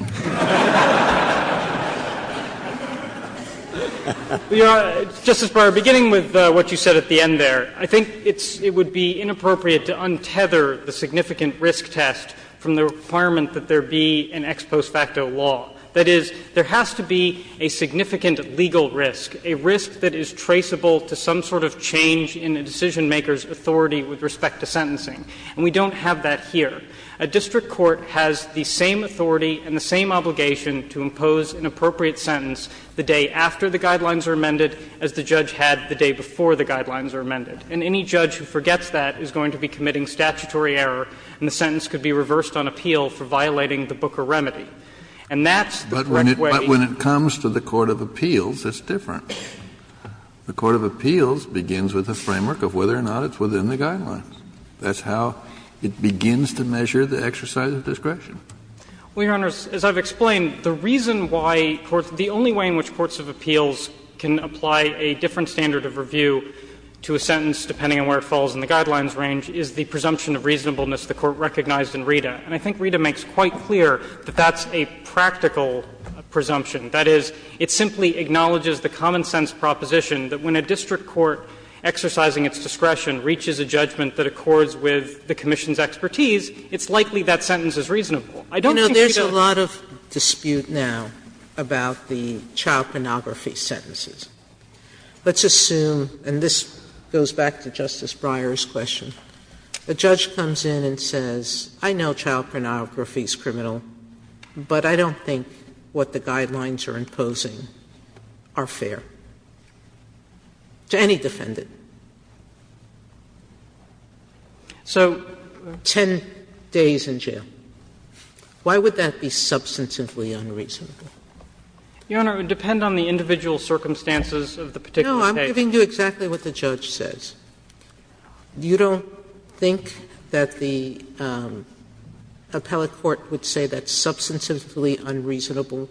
Justice Breyer, beginning with what you said at the end there, I think it's – it would be inappropriate to untether the significant risk test from the requirement that there be an ex post facto law. That is, there has to be a significant legal risk, a risk that is traceable to some sort of change in a decisionmaker's authority with respect to sentencing. And we don't have that here. A district court has the same authority and the same obligation to impose an appropriate sentence the day after the guidelines are amended as the judge had the day before the guidelines are amended. And any judge who forgets that is going to be committing statutory error and the sentence could be reversed on appeal for violating the Booker remedy. And that's the correct way to do it. Kennedy, but when it comes to the court of appeals, it's different. The court of appeals begins with a framework of whether or not it's within the guidelines. That's how it begins to measure the exercise of discretion. Well, Your Honors, as I've explained, the reason why courts – the only way in which courts of appeals can apply a different standard of review to a sentence, depending on where it falls in the guidelines range, is the presumption of reasonableness the Court recognized in RITA. And I think RITA makes quite clear that that's a practical presumption. That is, it simply acknowledges the common-sense proposition that when a district court exercising its discretion reaches a judgment that accords with the commission's expertise, it's likely that sentence is reasonable. I don't think that's a problem. Sotomayor, there's a lot of dispute now about the child pornography sentences. Let's assume, and this goes back to Justice Breyer's question, a judge comes in and says, I know child pornography is criminal, but I don't think what the guidelines are imposing are fair. To any defendant. So 10 days in jail, why would that be substantively unreasonable? Your Honor, it would depend on the individual circumstances of the particular case. No, I'm giving you exactly what the judge says. You don't think that the appellate court would say that's substantively unreasonable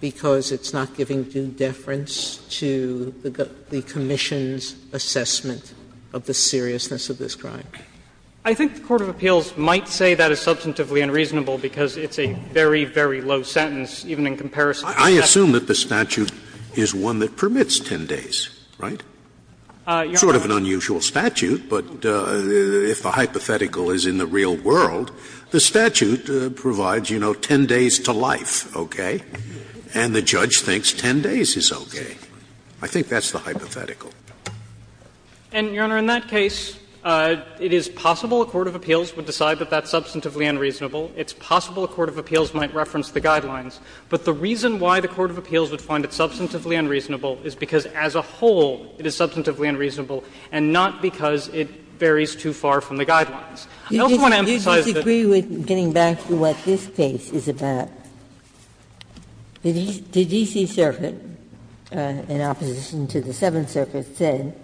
because it's not giving due deference to the commission's assessment of the seriousness of this crime? I think the court of appeals might say that is substantively unreasonable because it's a very, very low sentence, even in comparison to the statute. I assume that the statute is one that permits 10 days, right? It's sort of an unusual statute, but if a hypothetical is in the real world, the statute provides, you know, 10 days to life, okay, and the judge thinks 10 days is okay. I think that's the hypothetical. And, Your Honor, in that case, it is possible a court of appeals would decide that that's substantively unreasonable. It's possible a court of appeals might reference the guidelines. But the reason why the court of appeals would find it substantively unreasonable is because as a whole it is substantively unreasonable and not because it varies too far from the guidelines. I also want to emphasize that Ginsburg's case is about the D.C. Circuit, in opposition to the Seventh Circuit, said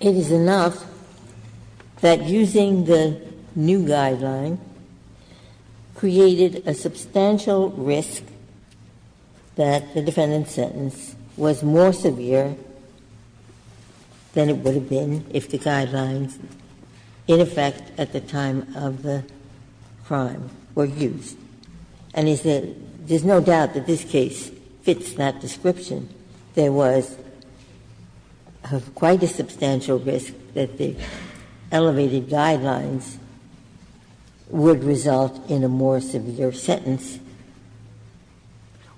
it is enough that using the new guideline created a substantial risk that the defendant's sentence was more severe than it would have been if the guidelines in effect at the time of the crime were used. And he said there's no doubt that this case fits that description. There was quite a substantial risk that the elevated guidelines would result in a more severe sentence.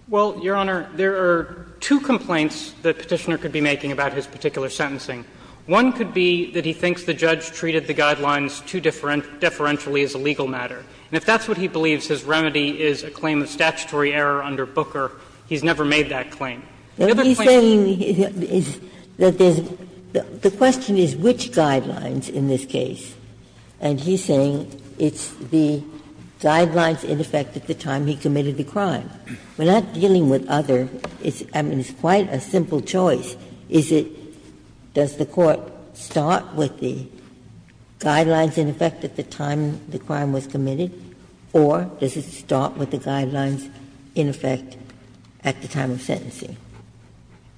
Well, Your Honor, there are two complaints that Petitioner could be making about his particular sentencing. One could be that he thinks the judge treated the guidelines too deferentially as a legal matter. And if that's what he believes his remedy is, a claim of statutory error under Booker, he's never made that claim. The other complaint is that there's the question is which guidelines in this case. And he's saying it's the guidelines in effect at the time he committed the crime. We're not dealing with other. Ginsburg. I mean, it's quite a simple choice. Is it, does the Court start with the guidelines in effect at the time the crime was committed, or does it start with the guidelines in effect at the time of sentencing?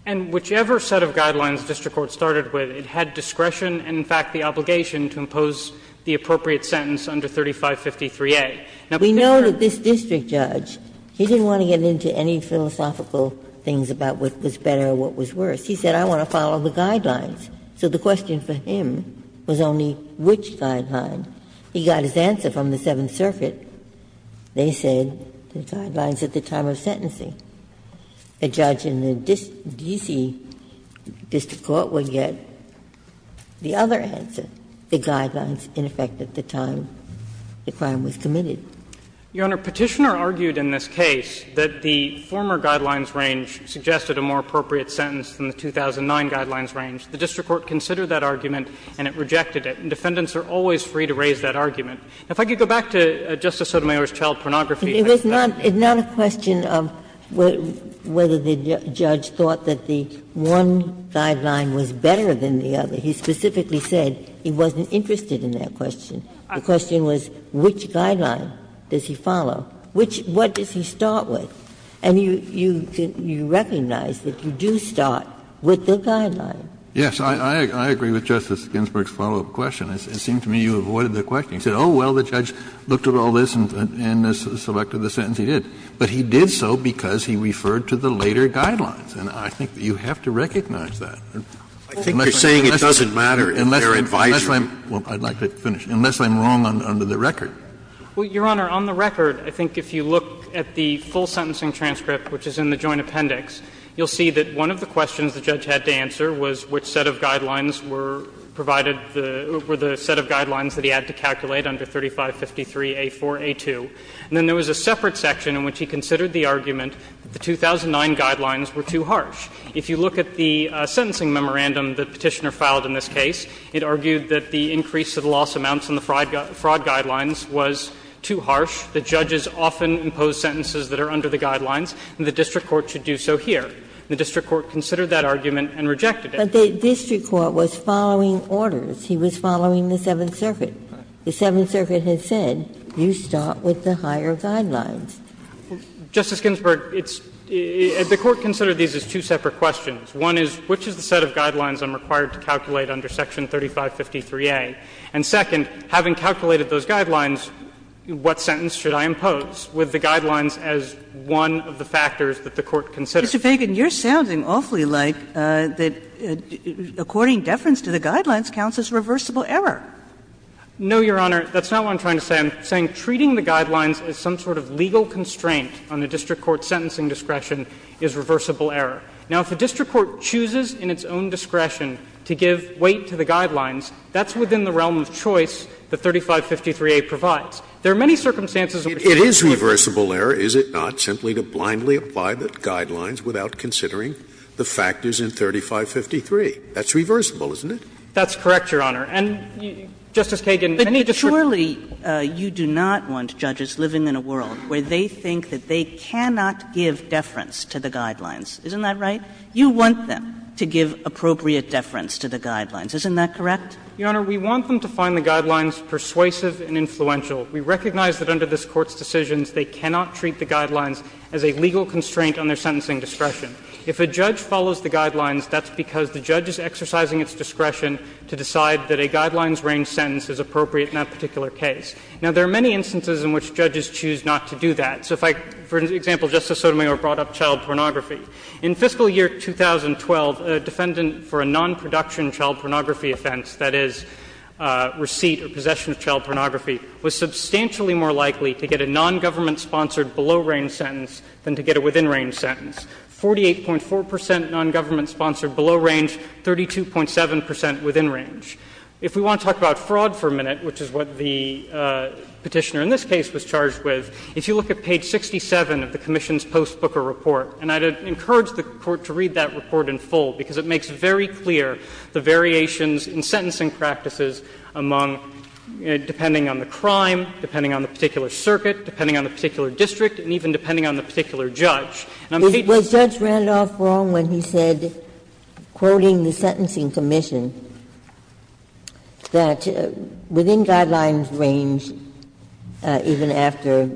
And whichever set of guidelines district court started with, it had discretion and, in fact, the obligation to impose the appropriate sentence under 3553A. Now, Petitioner's Ginsburg. Ginsburg. We know that this district judge, he didn't want to get into any philosophical things about what was better or what was worse. He said, I want to follow the guidelines. So the question for him was only which guideline. He got his answer from the Seventh Circuit. They said the guidelines at the time of sentencing. A judge in the D.C. district court would get the other answer, the guidelines in effect at the time the crime was committed. Your Honor, Petitioner argued in this case that the former guidelines range suggested a more appropriate sentence than the 2009 guidelines range. The district court considered that argument and it rejected it. And defendants are always free to raise that argument. If I could go back to Justice Sotomayor's child pornography. It's not a question of whether the judge thought that the one guideline was better than the other. He specifically said he wasn't interested in that question. The question was, which guideline does he follow? Which, what does he start with? And you recognize that you do start with the guideline. Kennedy, I agree with Justice Ginsburg's follow-up question. It seemed to me you avoided the question. You said, oh, well, the judge looked at all this and selected the sentence he did. But he did so because he referred to the later guidelines. And I think you have to recognize that. I think you're saying it doesn't matter if they're advisory. Well, I'd like to finish. Unless I'm wrong under the record. Well, Your Honor, on the record, I think if you look at the full sentencing transcript, which is in the joint appendix, you'll see that one of the questions the judge had to answer was which set of guidelines were provided, were the set of guidelines that he had to calculate under 3553A4A2. And then there was a separate section in which he considered the argument that the 2009 guidelines were too harsh. If you look at the sentencing memorandum the Petitioner filed in this case, it argued that the increase of the loss amounts in the fraud guidelines was too harsh. The judges often impose sentences that are under the guidelines, and the district court should do so here. The district court considered that argument and rejected it. But the district court was following orders. He was following the Seventh Circuit. The Seventh Circuit had said, you start with the higher guidelines. Justice Ginsburg, it's – the Court considered these as two separate questions. One is, which is the set of guidelines I'm required to calculate under section 3553A? And second, having calculated those guidelines, what sentence should I impose with the guidelines as one of the factors that the Court considers? Mr. Feigin, you're sounding awfully like that according deference to the guidelines counts as reversible error. No, Your Honor. That's not what I'm trying to say. I'm saying treating the guidelines as some sort of legal constraint on the district court's sentencing discretion is reversible error. Now, if a district court chooses in its own discretion to give weight to the guidelines, that's within the realm of choice that 3553A provides. There are many circumstances in which you can choose. It is reversible error, is it not, simply to blindly apply the guidelines without considering the factors in 3553. That's reversible, isn't it? And, Justice Kagan, any district courts would agree with that. Surely you do not want judges living in a world where they think that they cannot give deference to the guidelines, isn't that right? You want them to give appropriate deference to the guidelines, isn't that correct? Your Honor, we want them to find the guidelines persuasive and influential. We recognize that under this Court's decisions they cannot treat the guidelines as a legal constraint on their sentencing discretion. If a judge follows the guidelines, that's because the judge is exercising its discretion to decide that a guidelines-range sentence is appropriate in that particular case. Now, there are many instances in which judges choose not to do that. So if I can, for example, Justice Sotomayor brought up child pornography. In fiscal year 2012, a defendant for a non-production child pornography offense, that is, receipt or possession of child pornography, was substantially more likely to get a non-government-sponsored below-range sentence than to get a within-range sentence. 48.4 percent non-government-sponsored below-range, 32.7 percent within-range. If we want to talk about fraud for a minute, which is what the Petitioner in this case was charged with, if you look at page 67 of the commission's post-Booker report, and I'd encourage the Court to read that report in full, because it makes very clear the variations in sentencing practices among – depending on the crime, depending on the particular circuit, depending on the particular district, and even depending on the particular judge. Ginsburg. Was Judge Randolph wrong when he said, quoting the sentencing commission, that within guidelines range, even after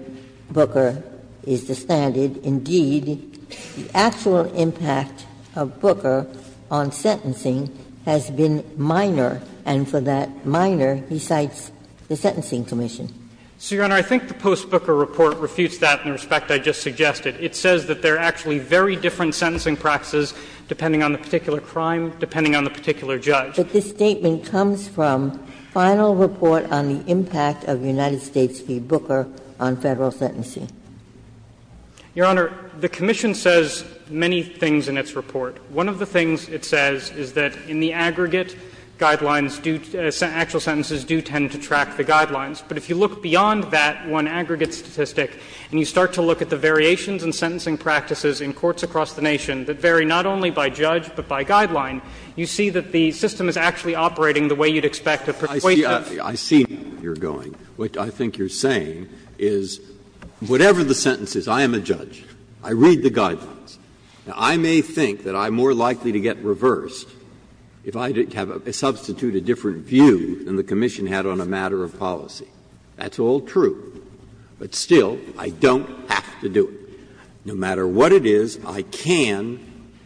Booker is distended, indeed, the actual impact of Booker on sentencing has been minor, and for that minor, he cites the sentencing commission? So, Your Honor, I think the post-Booker report refutes that in respect I just suggested. It says that there are actually very different sentencing practices depending on the particular crime, depending on the particular judge. But this statement comes from final report on the impact of United States v. Booker on Federal sentencing. Your Honor, the commission says many things in its report. One of the things it says is that in the aggregate guidelines, actual sentences do tend to track the guidelines. But if you look beyond that one aggregate statistic and you start to look at the variations in sentencing practices in courts across the nation that vary not only by judge but by guideline, you see that the system is actually operating the way you'd expect of persuasion. Breyer. I see where you're going. What I think you're saying is whatever the sentence is, I am a judge. I read the guidelines. Now, I may think that I'm more likely to get reversed if I have a substitute a different view than the commission had on a matter of policy. That's all true. But still, I don't have to do it. No matter what it is, I can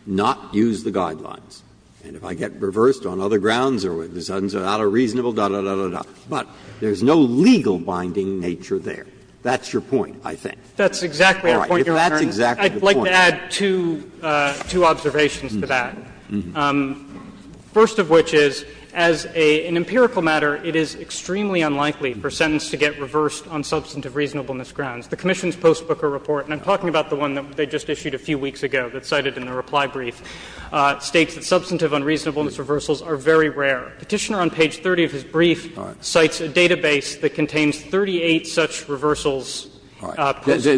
not use the guidelines. And if I get reversed on other grounds or with a reasonable, da, da, da, da, da, but there's no legal binding nature there. That's your point, I think. That's exactly our point, Your Honor. All right. If that's exactly the point. I'd like to add two observations to that. First of which is, as an empirical matter, it is extremely unlikely for a sentence to get reversed on substantive reasonableness grounds. The commission's post-Booker report, and I'm talking about the one that they just issued a few weeks ago that's cited in the reply brief, states that substantive unreasonableness reversals are very rare. Petitioner on page 30 of his brief cites a database that contains 38 such reversals post-Gaul.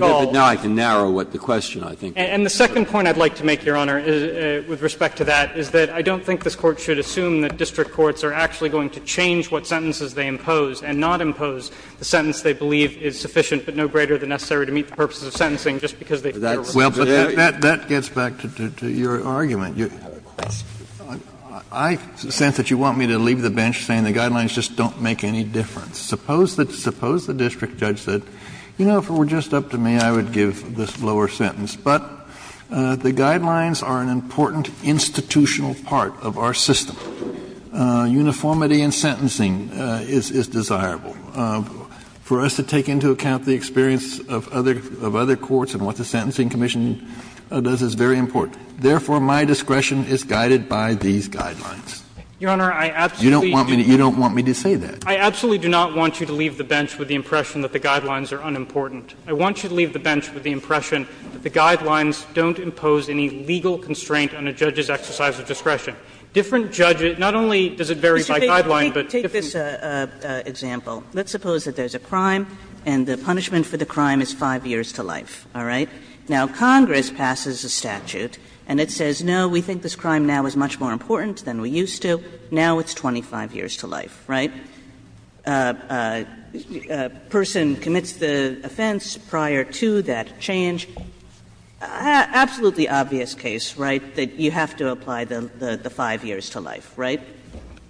All right. But now I can narrow the question, I think. And the second point I'd like to make, Your Honor, with respect to that, is that I don't think this Court should assume that district courts are actually going to change what sentences they impose and not impose the sentence they believe is sufficient but no greater than necessary to meet the purposes of sentencing just because they feel it's sufficient. Kennedy, that gets back to your argument. I sense that you want me to leave the bench saying the guidelines just don't make any difference. Suppose the district judge said, you know, if it were just up to me, I would give this lower sentence. But the guidelines are an important institutional part of our system. Uniformity in sentencing is desirable. For us to take into account the experience of other courts and what the Sentencing Commission does is very important. Therefore, my discretion is guided by these guidelines. You don't want me to say that. I absolutely do not want you to leave the bench with the impression that the guidelines are unimportant. I want you to leave the bench with the impression that the guidelines don't impose any legal constraint on a judge's exercise of discretion. Different judges – not only does it vary by guideline, but different – Kagan, let's take this example. Let's suppose that there's a crime and the punishment for the crime is 5 years to life, all right? Now, Congress passes a statute and it says, no, we think this crime now is much more important than we used to. Now it's 25 years to life, right? A person commits the offense prior to that change. Absolutely obvious case, right, that you have to apply the 5 years to life, right?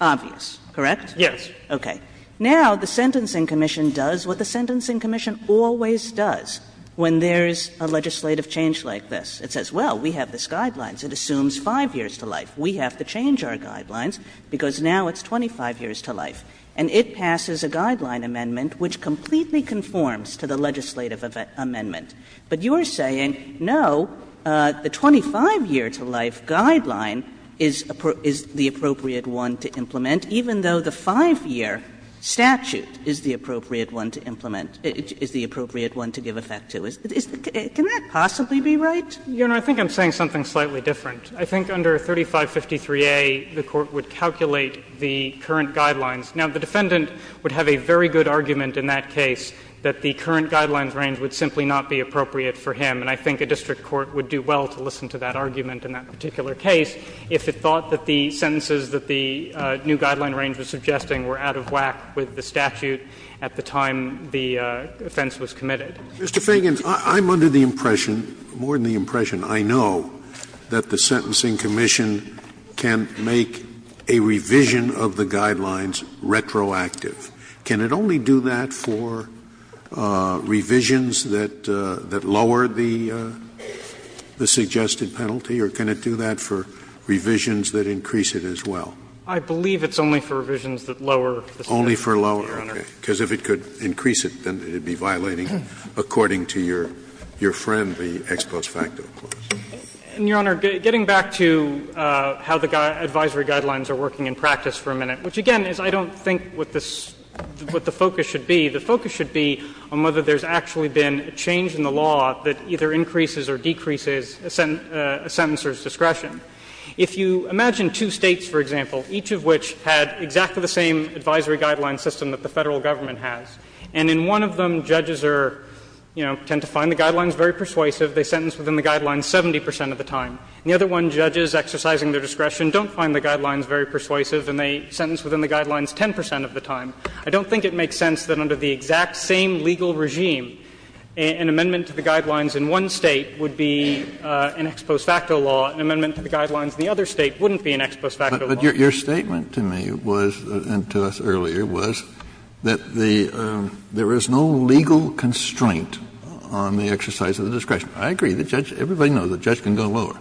Obvious, correct? Yes. Okay. Now the Sentencing Commission does what the Sentencing Commission always does when there's a legislative change like this. It says, well, we have these guidelines. It assumes 5 years to life. We have to change our guidelines because now it's 25 years to life. And it passes a guideline amendment which completely conforms to the legislative amendment. But you're saying, no, the 25-year-to-life guideline is the appropriate one to implement, even though the 5-year statute is the appropriate one to implement, is the appropriate one to give effect to. Can that possibly be right? Your Honor, I think I'm saying something slightly different. I think under 3553a, the Court would calculate the current guidelines. Now, the defendant would have a very good argument in that case that the current guidelines range would simply not be appropriate for him. And I think a district court would do well to listen to that argument in that particular case if it thought that the sentences that the new guideline range was suggesting were out of whack with the statute at the time the offense was committed. Scalia, Mr. Fagin, I'm under the impression, more than the impression, I know, that the Sentencing Commission can make a revision of the guidelines retroactive. Can it only do that for revisions that lower the suggested penalty, or can it do that for revisions that increase it as well? I believe it's only for revisions that lower the suggested penalty, Your Honor. Only for lower, okay. Because if it could increase it, then it would be violating according to your friendly ex-quota facto clause. And, Your Honor, getting back to how the advisory guidelines are working in practice for a minute, which, again, is I don't think what the focus should be, the focus should be on whether there's actually been a change in the law that either increases or decreases a sentencer's discretion. If you imagine two States, for example, each of which had exactly the same advisory guideline system that the Federal Government has, and in one of them judges are, you know, tend to find the guidelines very persuasive, they sentence within the guidelines 70 percent of the time, and the other one, judges exercising their discretion, don't find the guidelines very persuasive and they sentence within the guidelines 10 percent of the time. I don't think it makes sense that under the exact same legal regime, an amendment to the guidelines in one State would be an ex-quo facto law, an amendment to the guidelines in the other State wouldn't be an ex-quo facto law. Kennedy, but your statement to me was, and to us earlier, was that the — there is no legal constraint on the exercise of the discretion. I agree, the judge — everybody knows the judge can go lower.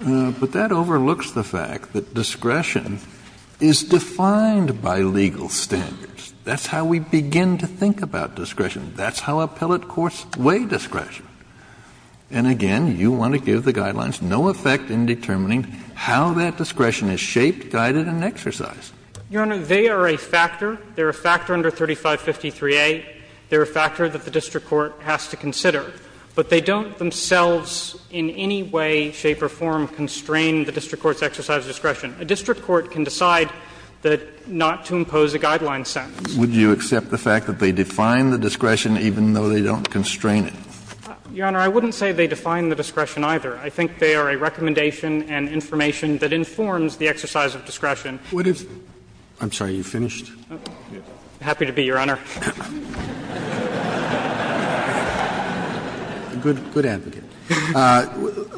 But that overlooks the fact that discretion is defined by legal standards. That's how we begin to think about discretion. That's how appellate courts weigh discretion. And again, you want to give the guidelines no effect in determining how that discretion is shaped, guided and exercised. Your Honor, they are a factor. They are a factor under 3553A. They are a factor that the district court has to consider. But they don't themselves in any way, shape or form constrain the district court's exercise of discretion. A district court can decide that — not to impose a guideline sentence. Kennedy, would you accept the fact that they define the discretion even though they don't constrain it? Your Honor, I wouldn't say they define the discretion either. I think they are a recommendation and information that informs the exercise of discretion. Kennedy, what if — I'm sorry, are you finished? I'm happy to be, Your Honor. Roberts,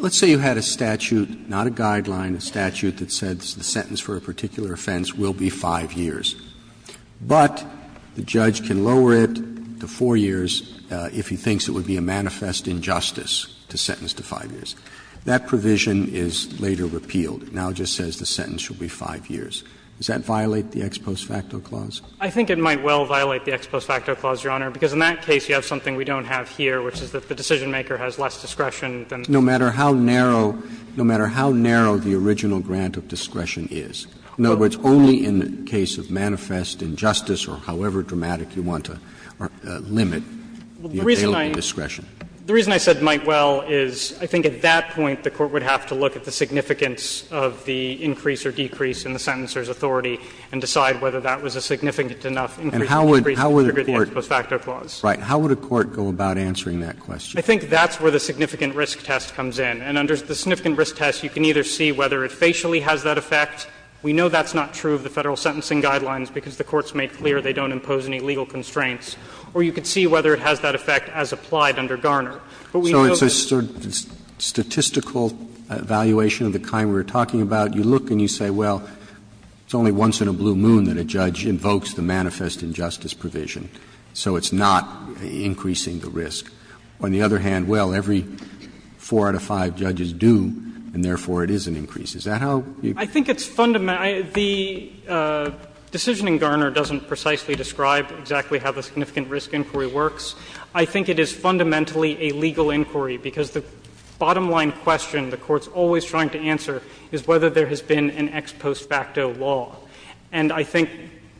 let's say you had a statute, not a guideline, a statute that said the sentence for a particular offense will be 5 years, but the judge can lower it to 4 years if he thinks it would be a manifest injustice to sentence to 5 years. That provision is later repealed. It now just says the sentence should be 5 years. Does that violate the Ex Post Facto Clause? I think it might well violate the Ex Post Facto Clause, Your Honor, because in that case you have something we don't have here, which is that the decisionmaker has less discretion than— No matter how narrow — no matter how narrow the original grant of discretion is. In other words, only in the case of manifest injustice or however dramatic you want to limit the available discretion. The reason I said might well is I think at that point the Court would have to look at the significance of the increase or decrease in the sentencer's authority and decide whether that was a significant enough increase or decrease to trigger the Ex Post Facto Clause. Right. How would a court go about answering that question? I think that's where the significant risk test comes in. And under the significant risk test, you can either see whether it facially has that effect. We know that's not true of the Federal sentencing guidelines because the courts made clear they don't impose any legal constraints. Or you could see whether it has that effect as applied under Garner. But we know that— So it's a statistical evaluation of the kind we were talking about. You look and you say, well, it's only once in a blue moon that a judge invokes the manifest injustice provision. So it's not increasing the risk. On the other hand, well, every four out of five judges do, and therefore it is an increase. Is that how you— I think it's fundamental. The decision in Garner doesn't precisely describe exactly how the significant risk inquiry works. I think it is fundamentally a legal inquiry because the bottom line question the Court's always trying to answer is whether there has been an ex post facto law. And I think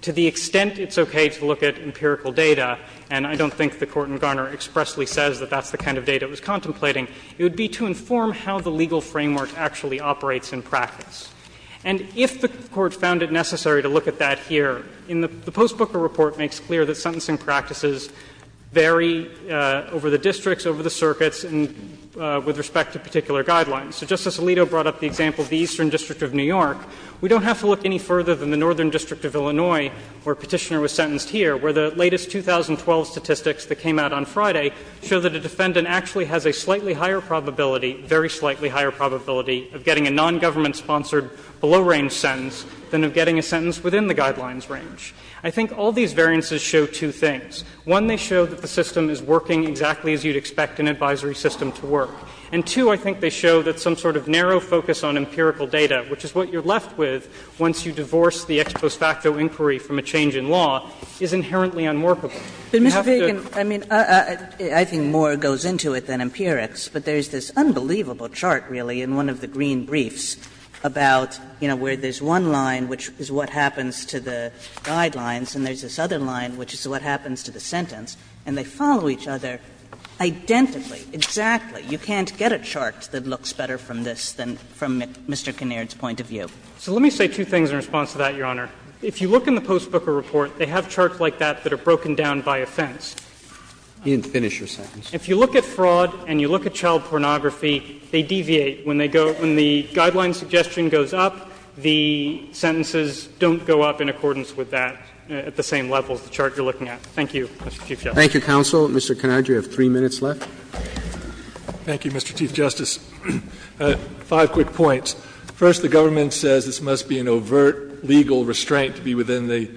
to the extent it's okay to look at empirical data, and I don't think the Court in Garner expressly says that that's the kind of data it was contemplating, it would be to inform how the legal framework actually operates in practice. And if the Court found it necessary to look at that here, the Post Booker report makes clear that sentencing practices vary over the districts, over the circuits, and with respect to particular guidelines. So just as Alito brought up the example of the Eastern District of New York, we don't have to look any further than the Northern District of Illinois, where Petitioner was sentenced here, where the latest 2012 statistics that came out on Friday show that a defendant actually has a slightly higher probability, very slightly higher probability, of getting a nongovernment-sponsored below-range sentence than of getting a sentence within the guidelines range. I think all these variances show two things. One, they show that the system is working exactly as you'd expect an advisory system to work. And two, I think they show that some sort of narrow focus on empirical data, which is what you're left with once you divorce the ex post facto inquiry from a change in law, is inherently unworkable. You have to go to the other side of the line, which is what happens to the sentence, and they follow each other identically, exactly. You can't get a chart that looks better from this than from Mr. Kinnaird's point of view. So let me say two things in response to that, Your Honor. If you look in the post-Booker report, they have charts like that that are broken down by offense. You didn't finish your sentence. If you look at fraud and you look at child pornography, they deviate. When they go to the guideline suggestion goes up, the sentences don't go up in accordance with that at the same level as the chart you're looking at. Thank you, Mr. Chief Justice. Thank you, counsel. Mr. Kinnaird, you have three minutes left. Thank you, Mr. Chief Justice. Five quick points. First, the government says this must be an overt legal restraint to be within the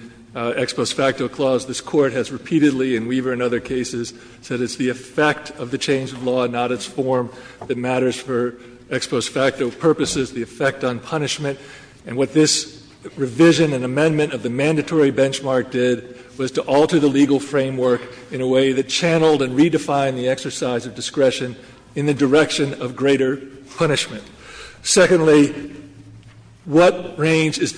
ex post facto clause. This Court has repeatedly, in Weaver and other cases, said it's the effect of the change of law, not its form, that matters for ex post facto purposes, the effect on punishment. And what this revision and amendment of the mandatory benchmark did was to alter the legal framework in a way that channeled and redefined the exercise of discretion in the direction of greater punishment. Secondly, what range is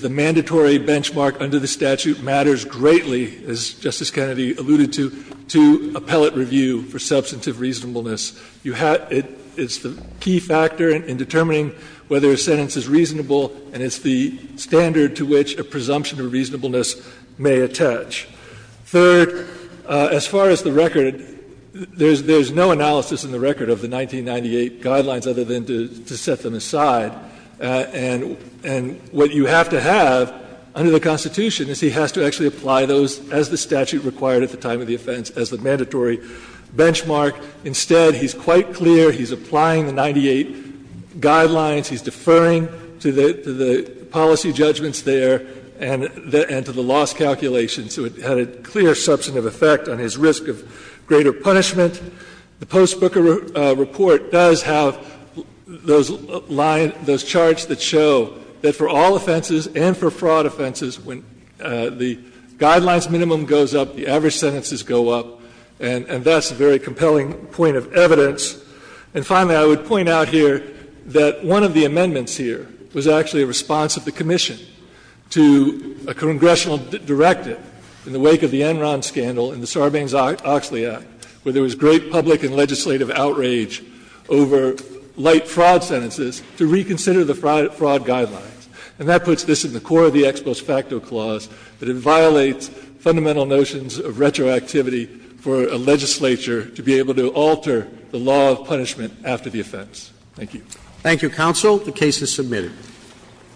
the mandatory benchmark under the statute matters greatly, as Justice Kennedy alluded to, to appellate review for substantive reasonableness. It's the key factor in determining whether a sentence is reasonable and it's the standard to which a presumption of reasonableness may attach. Third, as far as the record, there's no analysis in the record of the 1998 guidelines other than to set them aside. And what you have to have under the Constitution is he has to actually apply those as the statute required at the time of the offense as the mandatory benchmark. Instead, he's quite clear, he's applying the 98 guidelines, he's deferring to the policy judgments there and to the loss calculations. So it had a clear substantive effect on his risk of greater punishment. The Post Booker Report does have those lines, those charts that show that for all offenses and for fraud offenses, when the guidelines minimum goes up, the average sentences go up, and that's a very compelling point of evidence. And finally, I would point out here that one of the amendments here was actually a response of the commission to a congressional directive in the wake of the Enron scandal in the Sarbanes-Oxley Act, where there was great public and legislative outrage over light fraud sentences to reconsider the fraud guidelines. And that puts this in the core of the Ex Post Facto Clause, that it violates fundamental notions of retroactivity for a legislature to be able to alter the law of punishment after the offense. Thank you. Roberts. Thank you, counsel. The case is submitted.